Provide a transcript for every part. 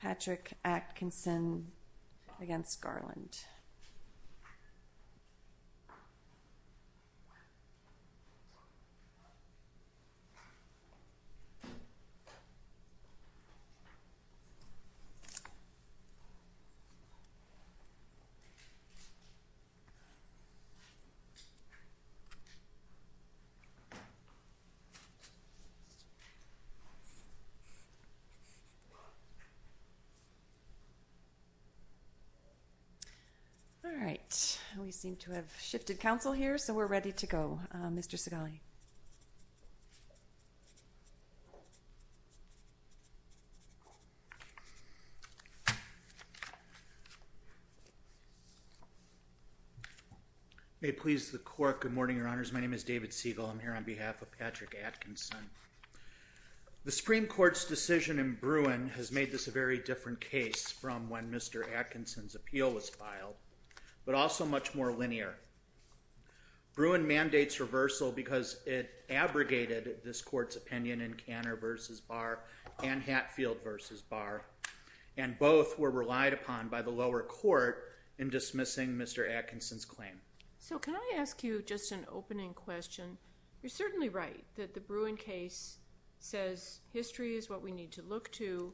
Patrick Atkinson against Garland. All right, we seem to have shifted counsel here, so we're ready to go. Mr. Segali. May it please the court, good morning, your honors, my name is David Segal, I'm here on behalf of Patrick Atkinson. The Supreme Court's decision in Bruin has made this a very different case from when Mr. Atkinson's appeal was filed, but also much more linear. Bruin mandates reversal because it abrogated this court's opinion in Canner v. Barr and Hatfield v. Barr, and both were relied upon by the lower court in dismissing Mr. Atkinson's claim. So can I ask you just an opening question? You're certainly right that the Bruin case says history is what we need to look to,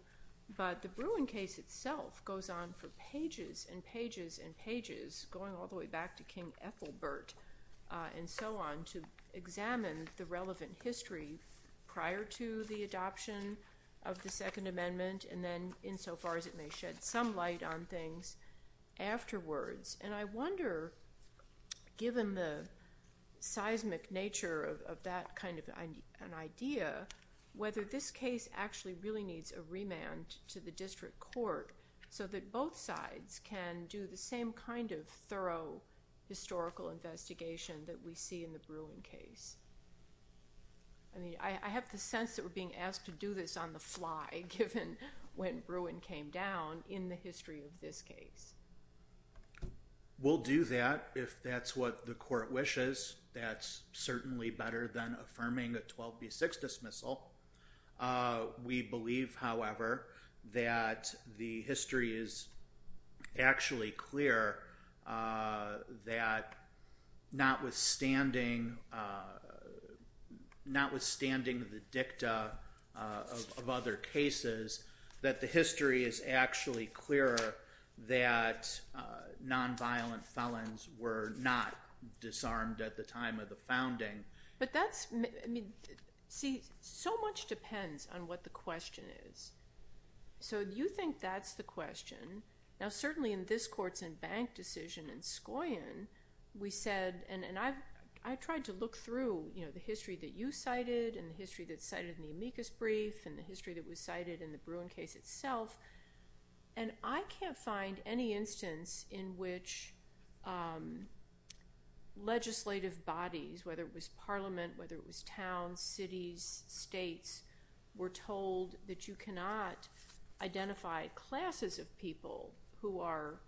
but the Bruin case itself goes on for pages and pages and pages, going all the way back to King Ethelbert and so on to examine the relevant history prior to the adoption of the Second Amendment and then insofar as it may shed some light on things afterwards. And I wonder, given the seismic nature of that kind of an idea, whether this case actually really needs a remand to the district court so that both sides can do the same kind of thorough historical investigation that we see in the Bruin case. I mean, I have the sense that we're being asked to do this on the fly, given when Bruin came down in the history of this case. We'll do that if that's what the court wishes. That's certainly better than affirming a 12B6 dismissal. We believe, however, that the history is actually clear that notwithstanding the dicta of other cases, that the history is actually clearer that nonviolent felons were not disarmed at the time of the founding. But that's, I mean, see, so much depends on what the question is. So you think that's the question. Now, certainly in this court's in-bank decision in Scoyon, we said, and I tried to look through the history that you cited and the history that's cited in the amicus brief and the history that was cited in the Bruin case itself. And I can't find any instance in which legislative bodies, whether it was parliament, whether it was towns, cities, states, were told that you cannot identify classes of people who are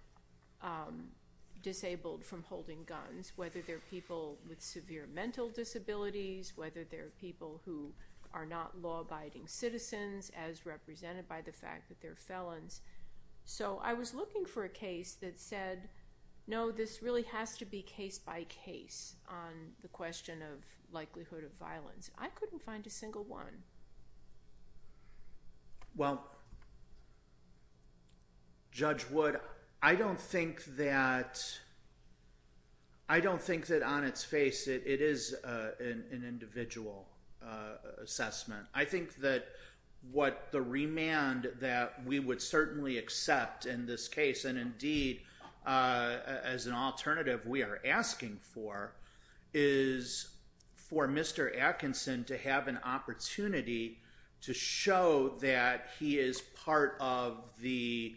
disabled from holding guns, whether they're people with severe mental disabilities, whether they're people who are not law-abiding citizens as represented by the fact that they're felons. So I was looking for a case that said, no, this really has to be case by case on the question of likelihood of violence. I couldn't find a single one. Well, Judge Wood, I don't think that on its face it is an individual assessment. I think that what the remand that we would certainly accept in this case, and indeed as an alternative we are asking for, is for Mr. Atkinson to have an opportunity to show that he is part of the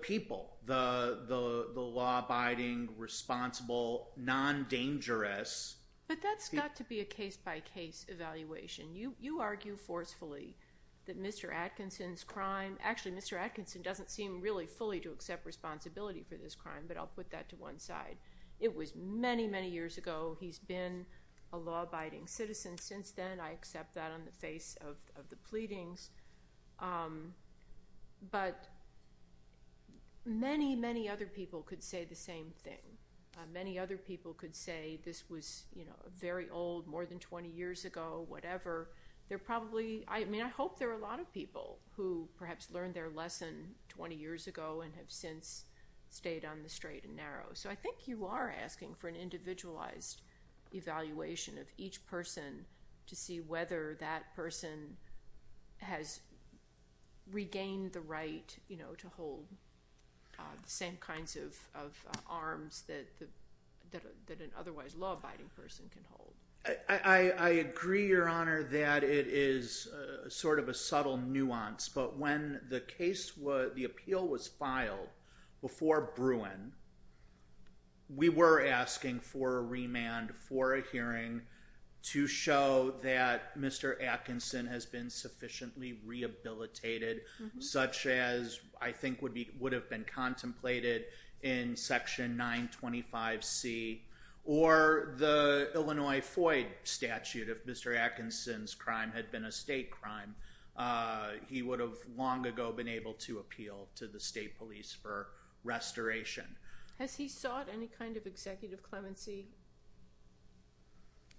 people, the law-abiding, responsible, non-dangerous people. But that's got to be a case by case evaluation. You argue forcefully that Mr. Atkinson's crime, actually Mr. Atkinson doesn't seem really fully to accept responsibility for this crime, but I'll put that to one side. It was many, many years ago. He's been a law-abiding citizen since then. I accept that on the face of the pleadings. But many, many other people could say the same thing. Many other people could say this was very old, more than 20 years ago, whatever. I hope there are a lot of people who perhaps learned their lesson 20 years ago and have since stayed on the straight and narrow. So I think you are asking for an individualized evaluation of each person to see whether that person has regained the right to hold the same kinds of arms that an otherwise law-abiding person can hold. I agree, Your Honor, that it is sort of a subtle nuance. But when the appeal was filed before Bruin, we were asking for a remand for a hearing to show that Mr. Atkinson has been sufficiently rehabilitated, such as I think would have been contemplated in Section 925C, or the Illinois FOID statute if Mr. Atkinson's crime had been a state crime. He would have long ago been able to appeal to the state police for restoration. Has he sought any kind of executive clemency?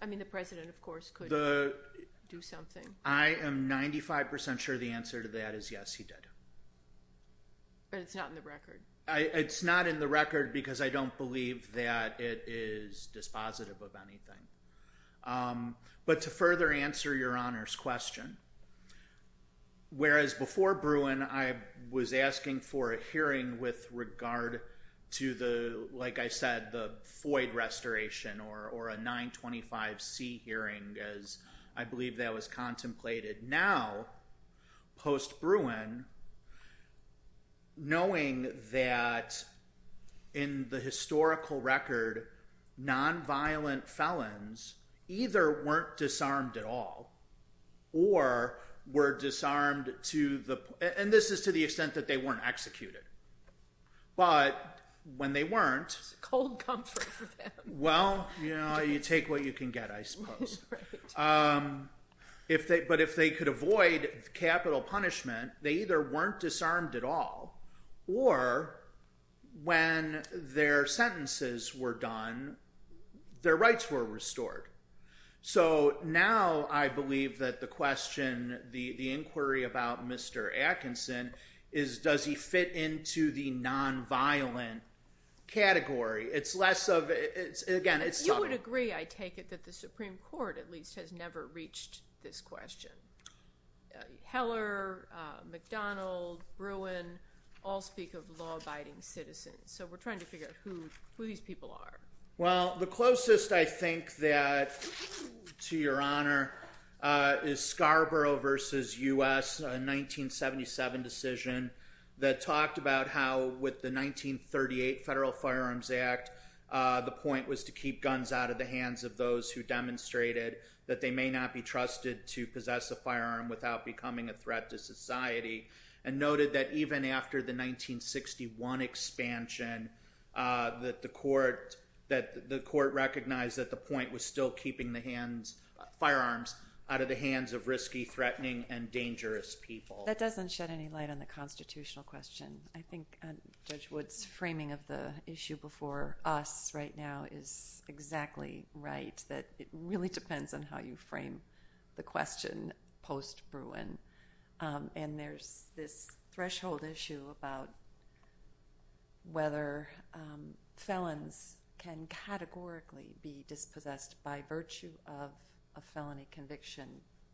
I mean, the President, of course, could do something. I am 95% sure the answer to that is yes, he did. But it's not in the record. It's not in the record because I don't believe that it is dispositive of anything. But to further answer Your Honor's question, whereas before Bruin, I was asking for a hearing with regard to the, like I said, the FOID restoration or a 925C hearing, as I believe that was contemplated. Now, post-Bruin, knowing that in the historical record, nonviolent felons either weren't disarmed at all or were disarmed to the, and this is to the extent that they weren't executed. But when they weren't, well, you know, you take what you can get, I suppose. But if they could avoid capital punishment, they either weren't disarmed at all or when their sentences were done, their rights were restored. So now I believe that the question, the inquiry about Mr. Atkinson is does he fit into the nonviolent category? It's less of, again, it's something. I would agree, I take it, that the Supreme Court at least has never reached this question. Heller, McDonald, Bruin all speak of law-abiding citizens. So we're trying to figure out who these people are. Well, the closest I think that, to Your Honor, is Scarborough v. U.S., a 1977 decision that talked about how with the 1938 Federal Firearms Act, the point was to keep guns out of the hands of those who demonstrated that they may not be trusted to possess a firearm without becoming a threat to society and noted that even after the 1961 expansion that the court recognized that the point was still keeping the firearms out of the hands of risky, threatening, and dangerous people. That doesn't shed any light on the constitutional question. I think Judge Wood's framing of the issue before us right now is exactly right, that it really depends on how you frame the question post-Bruin. And there's this threshold issue about whether felons can categorically be dispossessed by virtue of a felony conviction,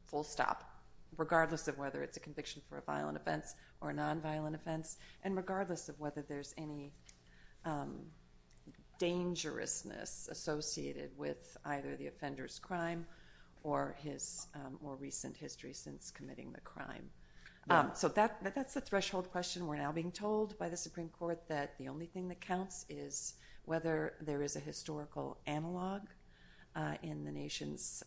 full stop, regardless of whether it's a conviction for a violent offense or a nonviolent offense, and regardless of whether there's any dangerousness associated with either the offender's crime or his more recent history since committing the crime. So that's the threshold question we're now being told by the Supreme Court, that the only thing that counts is whether there is a historical analog in the nation's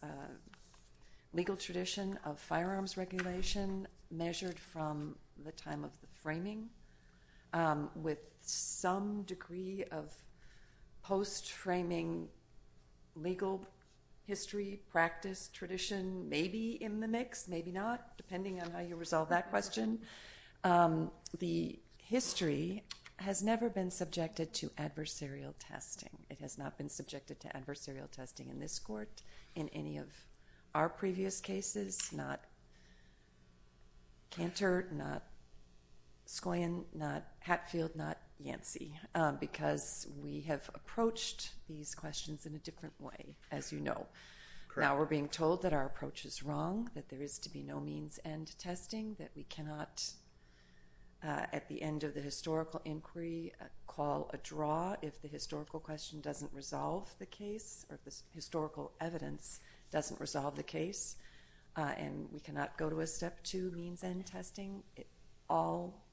legal tradition of firearms regulation measured from the time of the framing with some degree of post-framing legal history, practice, tradition, maybe in the mix, maybe not, depending on how you resolve that question. The history has never been subjected to adversarial testing. It has not been subjected to adversarial testing in this court, in any of our previous cases, not Cantor, not Scoyin, not Hatfield, not Yancey, because we have approached these questions in a different way, as you know. Now we're being told that our approach is wrong, that there is to be no means-end testing, that we cannot at the end of the historical inquiry call a draw if the historical question doesn't resolve the case or if the historical evidence doesn't resolve the case, and we cannot go to a step two means-end testing. It all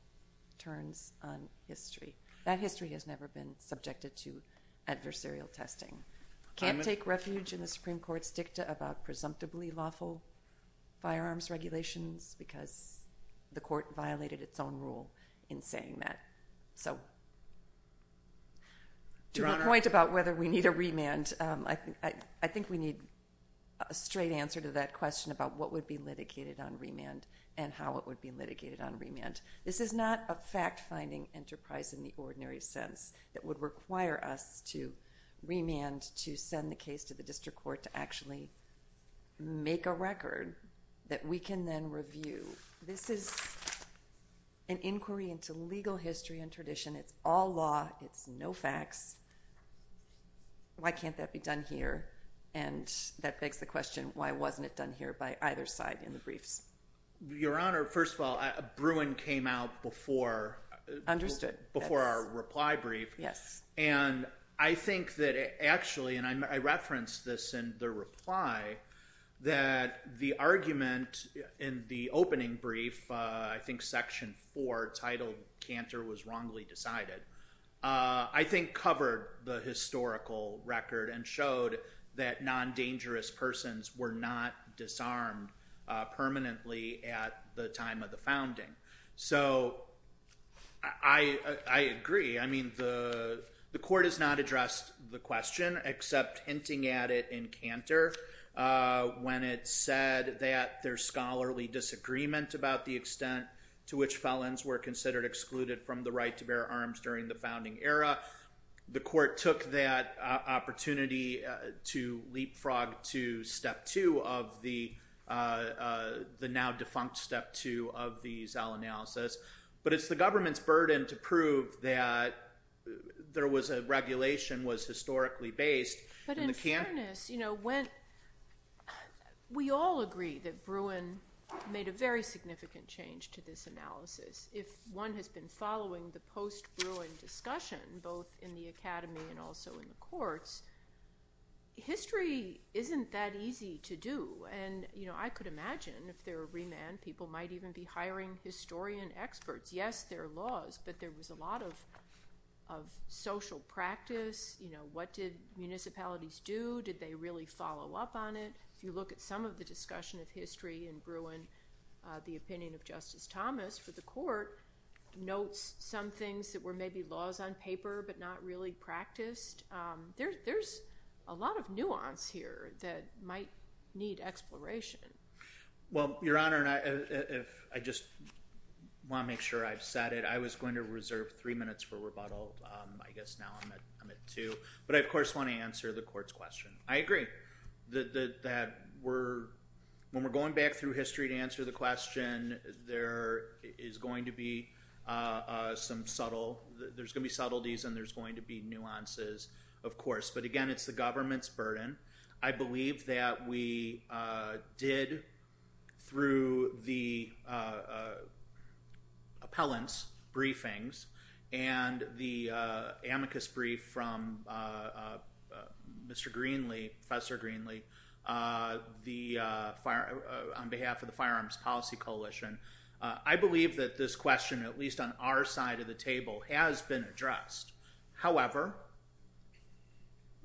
turns on history. That history has never been subjected to adversarial testing. Can't take refuge in the Supreme Court's dicta about presumptively lawful firearms regulations because the court violated its own rule in saying that. To your point about whether we need a remand, I think we need a straight answer to that question about what would be litigated on remand and how it would be litigated on remand. This is not a fact-finding enterprise in the ordinary sense that would require us to remand to send the case to the district court to actually make a record that we can then review. This is an inquiry into legal history and tradition. It's all law. It's no facts. Why can't that be done here? And that begs the question, why wasn't it done here by either side in the briefs? Your Honor, first of all, Bruin came out before our reply brief. Yes. And I think that actually, and I referenced this in the reply, that the argument in the opening brief, I think Section 4 titled Cantor was wrongly decided, I think covered the historical record and showed that non-dangerous persons were not disarmed permanently at the time of the founding. So I agree. I mean the court has not addressed the question except hinting at it in Cantor when it said that there's scholarly disagreement about the extent to which felons were considered excluded from the right to bear arms during the founding era. The court took that opportunity to leapfrog to Step 2 of the now defunct Step 2 of the Zell analysis, but it's the government's burden to prove that there was a regulation that was historically based. But in fairness, we all agree that Bruin made a very significant change to this analysis. If one has been following the post-Bruin discussion, both in the academy and also in the courts, history isn't that easy to do. And I could imagine if there were remand, people might even be hiring historian experts. Yes, there are laws, but there was a lot of social practice. What did municipalities do? Did they really follow up on it? If you look at some of the discussion of history in Bruin, the opinion of Justice Thomas for the court notes some things that were maybe laws on paper but not really practiced. There's a lot of nuance here that might need exploration. Well, Your Honor, I just want to make sure I've said it. I was going to reserve three minutes for rebuttal. I guess now I'm at two. But I, of course, want to answer the court's question. I agree that when we're going back through history to answer the question, there's going to be subtleties and there's going to be nuances, of course. But, again, it's the government's burden. I believe that we did, through the appellant's briefings and the amicus brief from Mr. Greenlee, Professor Greenlee, on behalf of the Firearms Policy Coalition, I believe that this question, at least on our side of the table, has been addressed. However,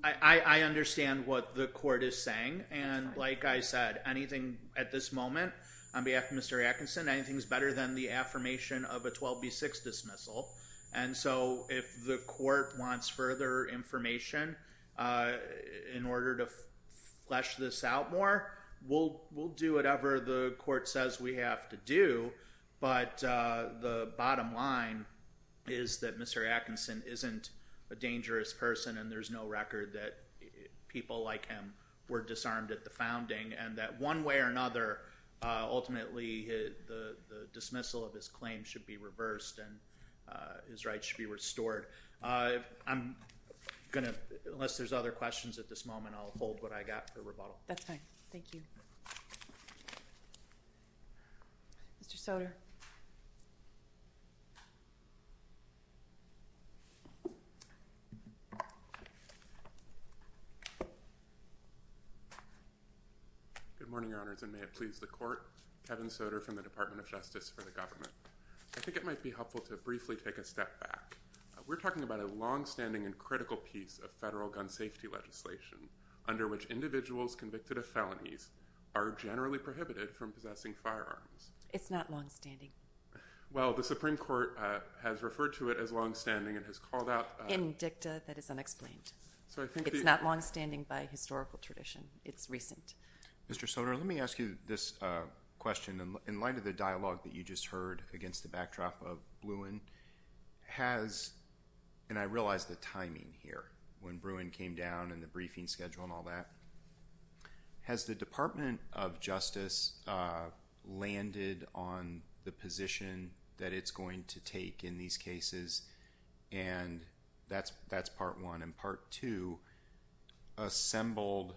I understand what the court is saying. And, like I said, anything at this moment, on behalf of Mr. Atkinson, anything is better than the affirmation of a 12B6 dismissal. And so if the court wants further information in order to flesh this out more, we'll do whatever the court says we have to do. But the bottom line is that Mr. Atkinson isn't a dangerous person and there's no record that people like him were disarmed at the founding. And that one way or another, ultimately, the dismissal of his claim should be reversed and his rights should be restored. I'm going to, unless there's other questions at this moment, I'll hold what I got for rebuttal. That's fine. Thank you. Mr. Soter. Good morning, Your Honors, and may it please the court. Kevin Soter from the Department of Justice for the government. I think it might be helpful to briefly take a step back. We're talking about a longstanding and critical piece of federal gun safety legislation under which individuals convicted of felonies are generally prohibited from possessing firearms. It's not longstanding. Well, the Supreme Court has referred to it as longstanding and has called out- In dicta that is unexplained. So I think it's not longstanding by historical tradition. It's recent. Mr. Soter, let me ask you this question. In light of the dialogue that you just heard against the backdrop of Bruin, has- and I realize the timing here, when Bruin came down and the briefing schedule and all that- has the Department of Justice landed on the position that it's going to take in these cases? And that's part one. And part two, assembled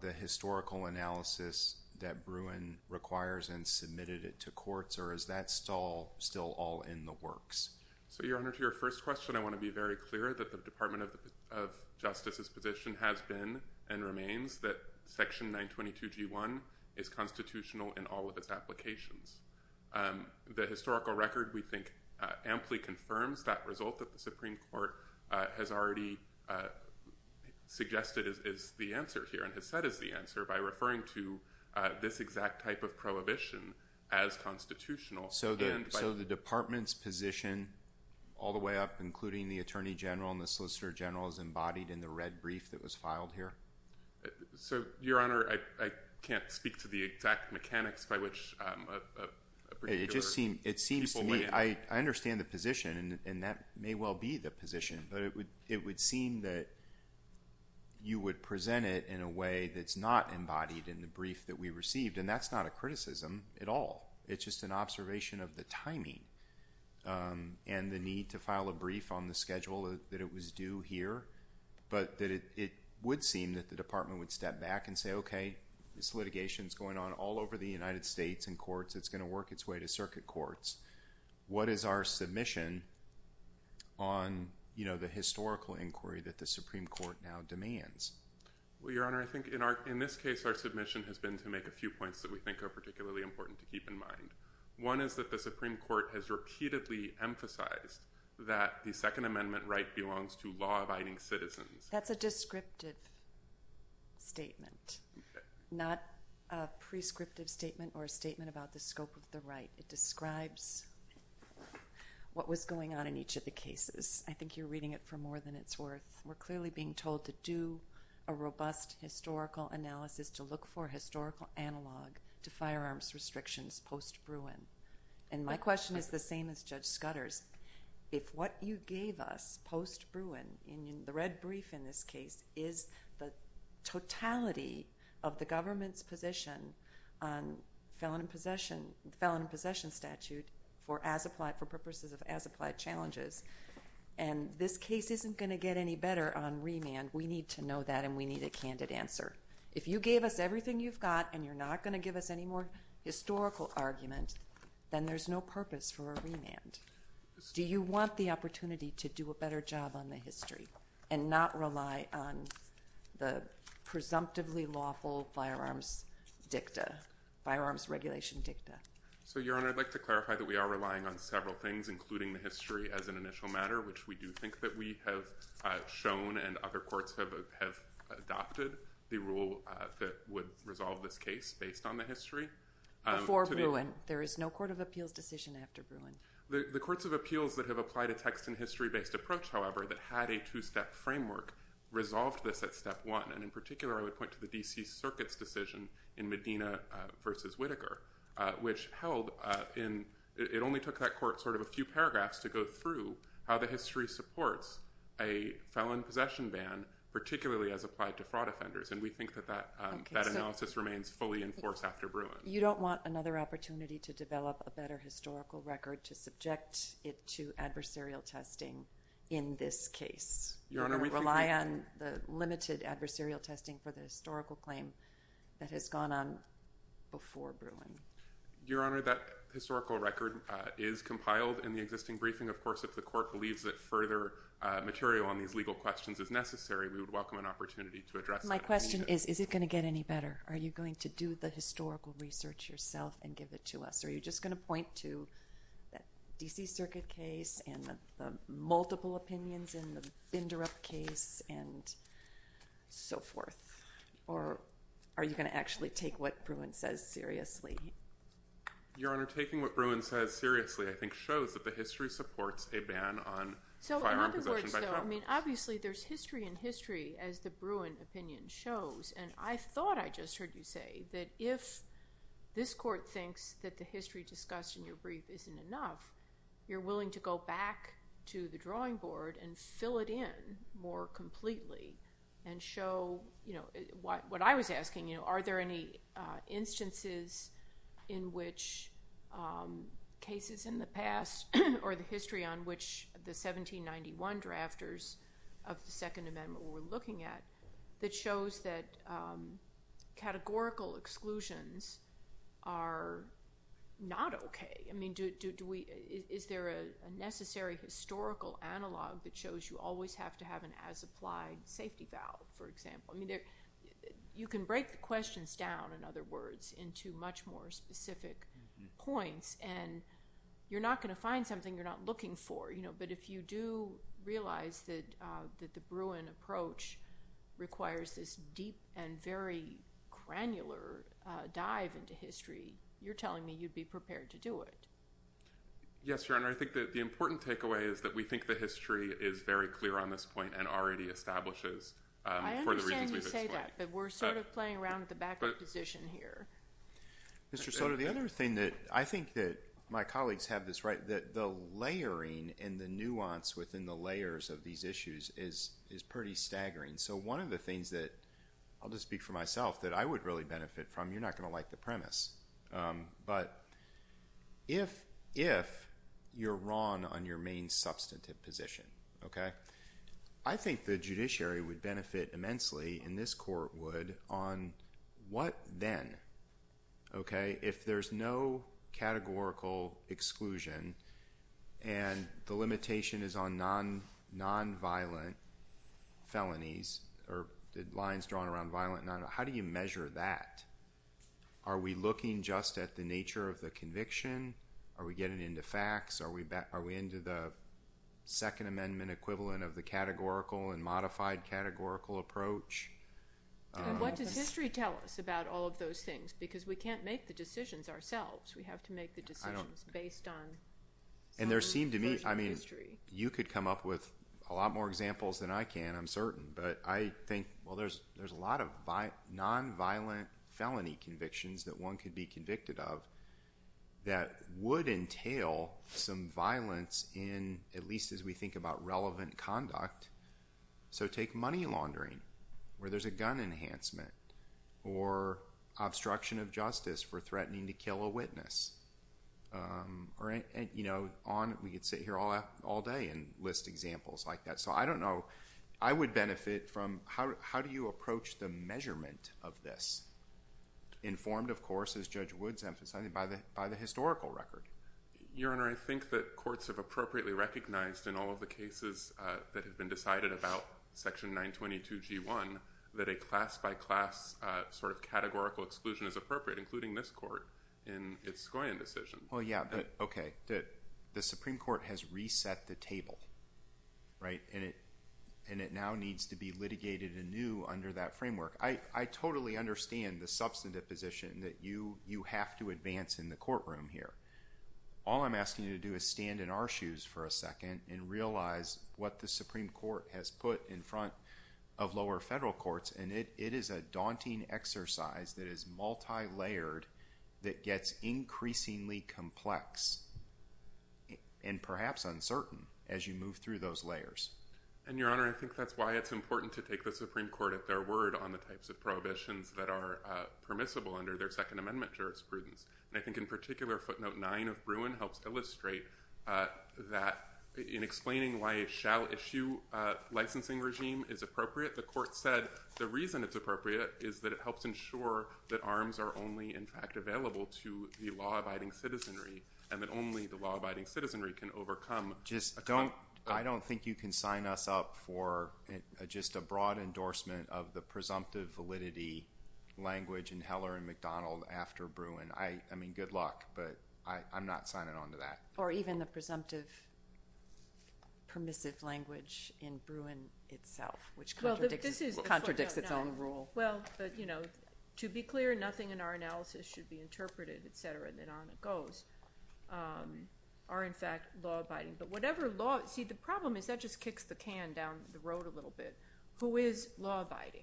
the historical analysis that Bruin requires and submitted it to courts, or is that still all in the works? So, Your Honor, to your first question, I want to be very clear that the Department of Justice's position has been and remains that Section 922G1 is constitutional in all of its applications. The historical record, we think, amply confirms that result that the Supreme Court has already suggested is the answer here and has said is the answer by referring to this exact type of prohibition as constitutional. So the Department's position all the way up, including the Attorney General and the Solicitor General, is embodied in the red brief that was filed here? So, Your Honor, I can't speak to the exact mechanics by which a particular- It just seems to me- People weigh in. I understand the position, and that may well be the position, but it would seem that you would present it in a way that's not embodied in the brief that we received, and that's not a criticism at all. It's just an observation of the timing and the need to file a brief on the schedule that it was due here, but that it would seem that the Department would step back and say, okay, this litigation's going on all over the United States in courts. It's going to work its way to circuit courts. What is our submission on the historical inquiry that the Supreme Court now demands? Well, Your Honor, I think in this case, our submission has been to make a few points that we think are particularly important to keep in mind. One is that the Supreme Court has repeatedly emphasized that the Second Amendment right belongs to law-abiding citizens. That's a descriptive statement, not a prescriptive statement or a statement about the scope of the right. It describes what was going on in each of the cases. I think you're reading it for more than it's worth. We're clearly being told to do a robust historical analysis, to look for historical analog to firearms restrictions post-Bruin, and my question is the same as Judge Scudder's. If what you gave us post-Bruin in the red brief in this case is the totality of the government's position on felon in possession statute for purposes of as-applied challenges, and this case isn't going to get any better on remand, we need to know that and we need a candid answer. If you gave us everything you've got and you're not going to give us any more historical argument, then there's no purpose for a remand. Do you want the opportunity to do a better job on the history and not rely on the presumptively lawful firearms dicta, firearms regulation dicta? Your Honor, I'd like to clarify that we are relying on several things, including the history as an initial matter, which we do think that we have shown and other courts have adopted. The rule that would resolve this case based on the history. Before Bruin. There is no court of appeals decision after Bruin. The courts of appeals that have applied a text and history-based approach, however, that had a two-step framework resolved this at step one, and in particular I would point to the D.C. Circuit's decision in Medina v. Whitaker, which held in, it only took that court sort of a few paragraphs to go through how the history supports a felon possession ban, particularly as applied to fraud offenders, and we think that that analysis remains fully in force after Bruin. You don't want another opportunity to develop a better historical record to subject it to adversarial testing in this case. Your Honor, we think that— Or rely on the limited adversarial testing for the historical claim that has gone on before Bruin. Your Honor, that historical record is compiled in the existing briefing, of course, if the court believes that further material on these legal questions is necessary, we would welcome an opportunity to address that. My question is, is it going to get any better? Are you going to do the historical research yourself and give it to us, or are you just going to point to that D.C. Circuit case and the multiple opinions in the Binderup case and so forth, or are you going to actually take what Bruin says seriously? Your Honor, taking what Bruin says seriously, I think, shows that the history supports a ban on firearm possession by Trump. Obviously, there's history in history, as the Bruin opinion shows, and I thought I just heard you say that if this court thinks that the history discussed in your brief isn't enough, you're willing to go back to the drawing board and fill it in more completely and show what I was asking, are there any instances in which cases in the past or the history on which the 1791 drafters of the Second Amendment were looking at that shows that categorical exclusions are not okay? Is there a necessary historical analog that shows you always have to have an as-applied safety valve, for example? You can break the questions down, in other words, into much more specific points, and you're not going to find something you're not looking for, but if you do realize that the Bruin approach requires this deep and very granular dive into history, you're telling me you'd be prepared to do it. Yes, Your Honor, I think that the important takeaway is that we think the history is very clear on this point and already establishes for the reasons we've explained. I understand you say that, but we're sort of playing around with the backup position here. Mr. Soto, the other thing that I think that my colleagues have this right, that the layering and the nuance within the layers of these issues is pretty staggering, so one of the things that I'll just speak for myself that I would really benefit from, you're not going to like the premise, but if you're wrong on your main substantive position, I think the judiciary would benefit immensely, and this court would, on what then? If there's no categorical exclusion and the limitation is on nonviolent felonies or lines drawn around violent nonviolence, how do you measure that? Are we looking just at the nature of the conviction? Are we getting into facts? Are we into the Second Amendment equivalent of the categorical and modified categorical approach? What does history tell us about all of those things? Because we can't make the decisions ourselves. We have to make the decisions based on some version of history. You could come up with a lot more examples than I can, I'm certain, but I think there's a lot of nonviolent felony convictions that one could be convicted of that would entail some violence in, at least as we think about relevant conduct. So take money laundering where there's a gun enhancement or obstruction of justice for threatening to kill a witness. We could sit here all day and list examples like that. So I don't know. I would benefit from how do you approach the measurement of this, informed, of course, as Judge Woods emphasized, by the historical record. Your Honor, I think that courts have appropriately recognized in all of the cases that have been decided about Section 922G1 that a class-by-class sort of categorical exclusion is appropriate, including this court in its Scoyan decision. Well, yeah, but, okay, the Supreme Court has reset the table, right, and it now needs to be litigated anew under that framework. I totally understand the substantive position that you have to advance in the courtroom here. All I'm asking you to do is stand in our shoes for a second and realize what the Supreme Court has put in front of lower federal courts, and it is a daunting exercise that is multilayered that gets increasingly complex and perhaps uncertain as you move through those layers. And, Your Honor, I think that's why it's important to take the Supreme Court at their word on the types of prohibitions that are permissible under their Second Amendment jurisprudence. And I think in particular footnote 9 of Bruin helps illustrate that in explaining why a shall-issue licensing regime is appropriate. The court said the reason it's appropriate is that it helps ensure that arms are only, in fact, available to the law-abiding citizenry and that only the law-abiding citizenry can overcome. I don't think you can sign us up for just a broad endorsement of the presumptive validity language in Heller and McDonald after Bruin. I mean, good luck, but I'm not signing on to that. Or even the presumptive permissive language in Bruin itself, which contradicts its own rule. Well, but, you know, to be clear, nothing in our analysis should be interpreted, et cetera, and then on it goes, are, in fact, law-abiding. But whatever law – see, the problem is that just kicks the can down the road a little bit. Who is law-abiding?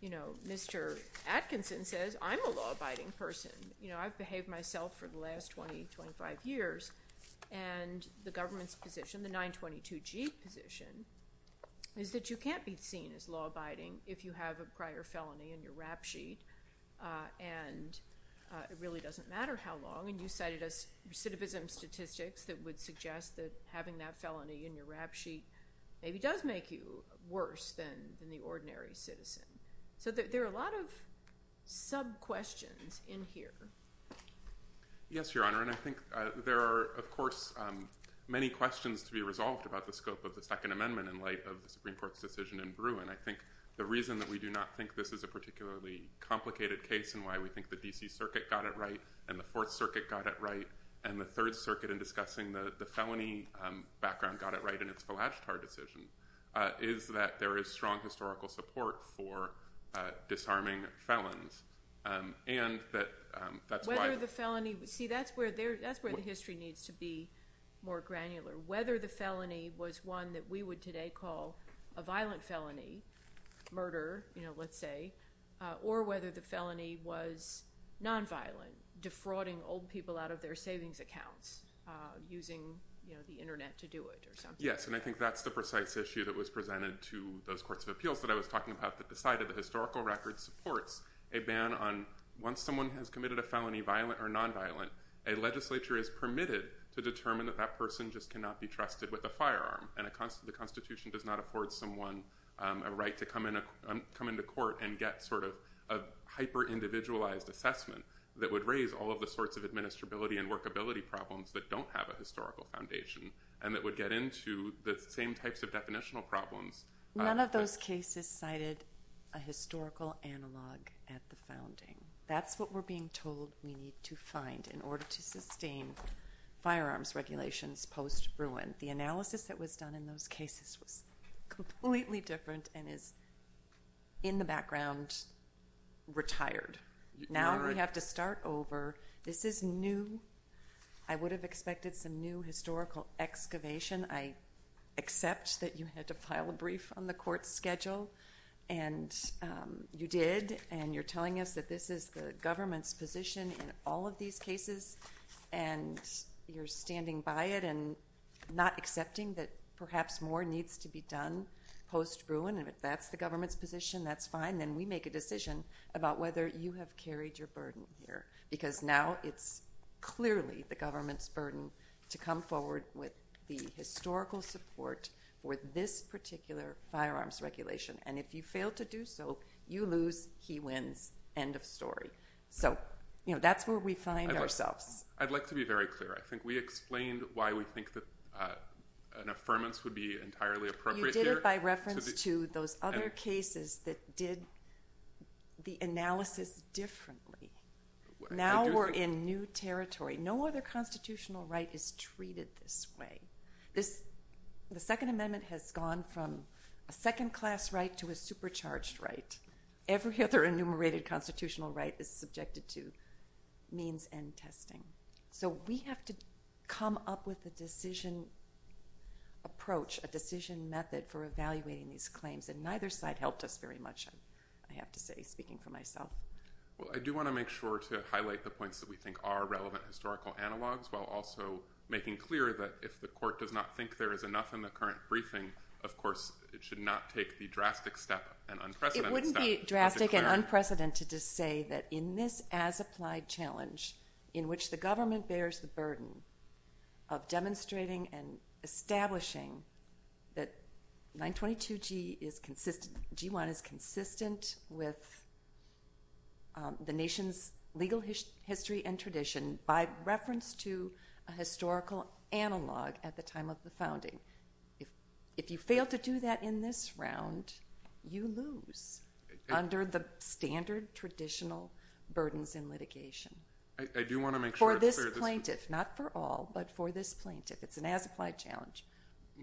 You know, Mr. Atkinson says, I'm a law-abiding person. You know, I've behaved myself for the last 20, 25 years, and the government's position, the 922G position, is that you can't be seen as law-abiding if you have a prior felony in your rap sheet and it really doesn't matter how long. And you cited us recidivism statistics that would suggest that having that felony in your rap sheet maybe does make you worse than the ordinary citizen. So there are a lot of sub-questions in here. Yes, Your Honor. And I think there are, of course, many questions to be resolved about the scope of the Second Amendment in light of the Supreme Court's decision in Bruin. I think the reason that we do not think this is a particularly complicated case and why we think the D.C. Circuit got it right and the Fourth Circuit got it right and the Third Circuit in discussing the felony background got it right in its Velashtar decision is that there is strong historical support for disarming felons. See, that's where the history needs to be more granular. Whether the felony was one that we would today call a violent felony, murder, let's say, or whether the felony was nonviolent, defrauding old people out of their savings accounts, using the Internet to do it or something like that. Yes, and I think that's the precise issue that was presented to those courts of appeals that I was talking about that decided the historical record supports a ban on, once someone has committed a felony, violent or nonviolent, a legislature is permitted to determine that that person just cannot be trusted with a firearm and the Constitution does not afford someone a right to come into court and get sort of a hyper-individualized assessment that would raise all of the sorts of administrability and workability problems that don't have a historical foundation and that would get into the same types of definitional problems. None of those cases cited a historical analog at the founding. That's what we're being told we need to find in order to sustain firearms regulations post-ruin. The analysis that was done in those cases was completely different and is, in the background, retired. Now we have to start over. This is new. I would have expected some new historical excavation. I accept that you had to file a brief on the court's schedule, and you did, and you're telling us that this is the government's position in all of these cases, and you're standing by it and not accepting that perhaps more needs to be done post-ruin. If that's the government's position, that's fine. Then we make a decision about whether you have carried your burden here because now it's clearly the government's burden to come forward with the historical support for this particular firearms regulation, and if you fail to do so, you lose, he wins. End of story. That's where we find ourselves. I'd like to be very clear. I think we explained why we think that an affirmance would be entirely appropriate here. We did it by reference to those other cases that did the analysis differently. Now we're in new territory. No other constitutional right is treated this way. The Second Amendment has gone from a second-class right to a supercharged right. Every other enumerated constitutional right is subjected to means and testing. So we have to come up with a decision approach, a decision method for evaluating these claims, and neither side helped us very much, I have to say, speaking for myself. Well, I do want to make sure to highlight the points that we think are relevant historical analogs while also making clear that if the court does not think there is enough in the current briefing, of course it should not take the drastic step and unprecedented step. It wouldn't be drastic and unprecedented to say that in this as-applied challenge in which the government bears the burden of demonstrating and establishing that 922G is consistent, G1 is consistent with the nation's legal history and tradition by reference to a historical analog at the time of the founding. If you fail to do that in this round, you lose under the standard traditional burdens in litigation. For this plaintiff, not for all, but for this plaintiff, it's an as-applied challenge.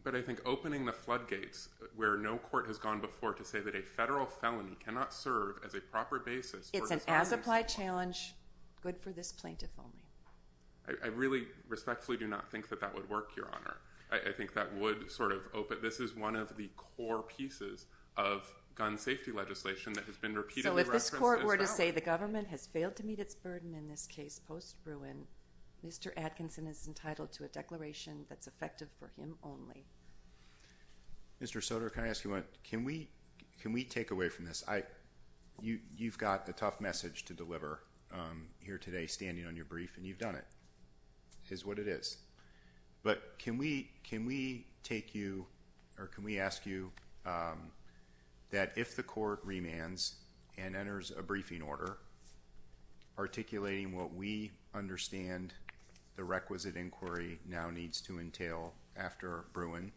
But I think opening the floodgates where no court has gone before to say that a federal felony cannot serve as a proper basis for dishonesty. It's an as-applied challenge good for this plaintiff only. I really respectfully do not think that that would work, Your Honor. I think that would sort of open. This is one of the core pieces of gun safety legislation that has been repeatedly referenced as well. So if this court were to say the government has failed to meet its burden in this case post-Bruin, Mr. Atkinson is entitled to a declaration that's effective for him only. Mr. Soter, can I ask you one? Can we take away from this? You've got a tough message to deliver here today standing on your brief, and you've done it, is what it is. But can we ask you that if the court remands and enters a briefing order articulating what we understand the requisite inquiry now needs to entail after Bruin,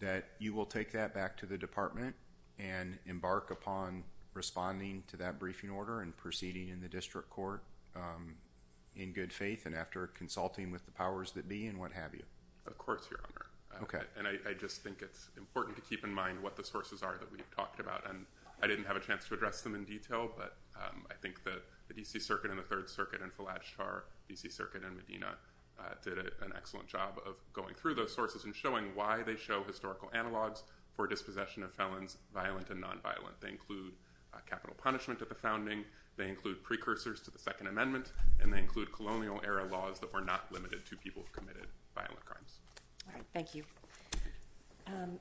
that you will take that back to the department and embark upon responding to that briefing order and proceeding in the district court in good faith and after consulting with the powers that be and what have you? Of course, Your Honor. Okay. And I just think it's important to keep in mind what the sources are that we've talked about. And I didn't have a chance to address them in detail, but I think the D.C. Circuit and the Third Circuit and Fallajtar, D.C. Circuit and Medina did an excellent job of going through those sources and showing why they show historical analogs for dispossession of felons, violent and nonviolent. They include capital punishment at the founding. They include precursors to the Second Amendment. And they include colonial era laws that were not limited to people who committed violent crimes. All right. Thank you.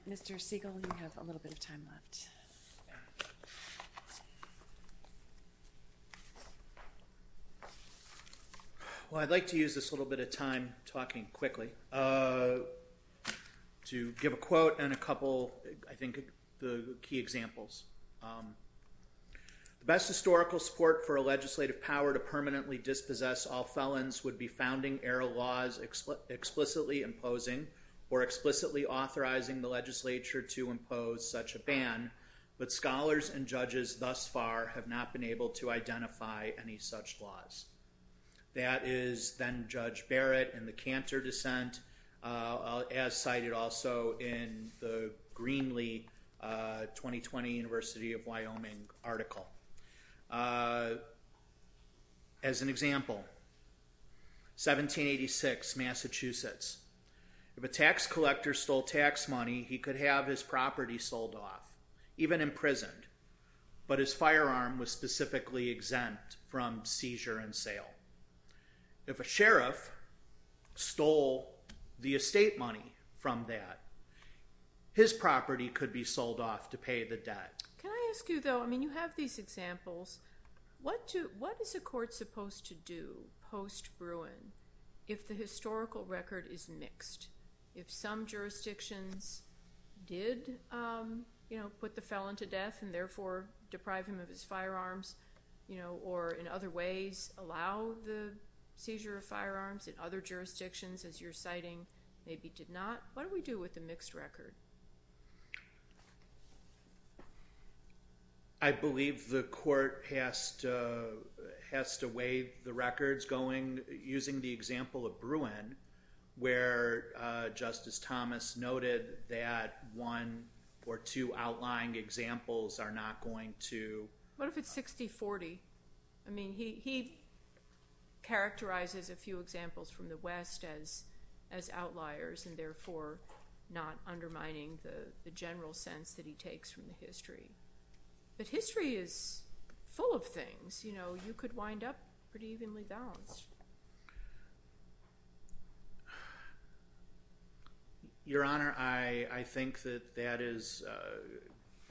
Mr. Siegel, you have a little bit of time left. Well, I'd like to use this little bit of time talking quickly to give a quote and a couple, I think, key examples. The best historical support for a legislative power to permanently dispossess all felons would be founding era laws explicitly imposing or explicitly authorizing the legislature to impose such a ban. But scholars and judges thus far have not been able to identify any such laws. That is then Judge Barrett in the Cantor dissent, as cited also in the Greenlee 2020 University of Wyoming article. As an example, 1786, Massachusetts. If a tax collector stole tax money, he could have his property sold off, even imprisoned. But his firearm was specifically exempt from seizure and sale. If a sheriff stole the estate money from that, his property could be sold off to pay the debt. Can I ask you, though? I mean, you have these examples. What is a court supposed to do post-Bruin if the historical record is mixed? If some jurisdictions did put the felon to death and therefore deprive him of his firearms, or in other ways allow the seizure of firearms, and other jurisdictions, as you're citing, maybe did not, what do we do with the mixed record? I believe the court has to waive the records using the example of Bruin, where Justice Thomas noted that one or two outlying examples are not going to… What if it's 60-40? I mean, he characterizes a few examples from the West as outliers and therefore not undermining the general sense that he takes from the history. But history is full of things. You could wind up pretty evenly balanced. Your Honor, I think that that is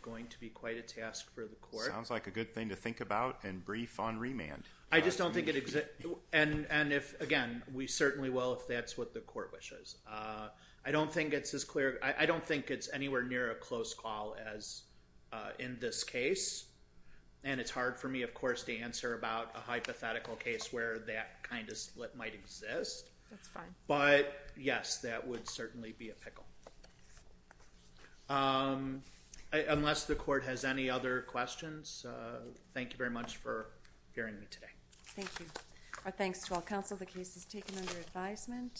going to be quite a task for the court. Sounds like a good thing to think about and brief on remand. I just don't think it exists. And again, we certainly will if that's what the court wishes. I don't think it's anywhere near a close call as in this case. And it's hard for me, of course, to answer about a hypothetical case where that kind of split might exist. Unless the court has any other questions, thank you very much for hearing me today. Thank you. Our thanks to all counsel. The case is taken under advisement.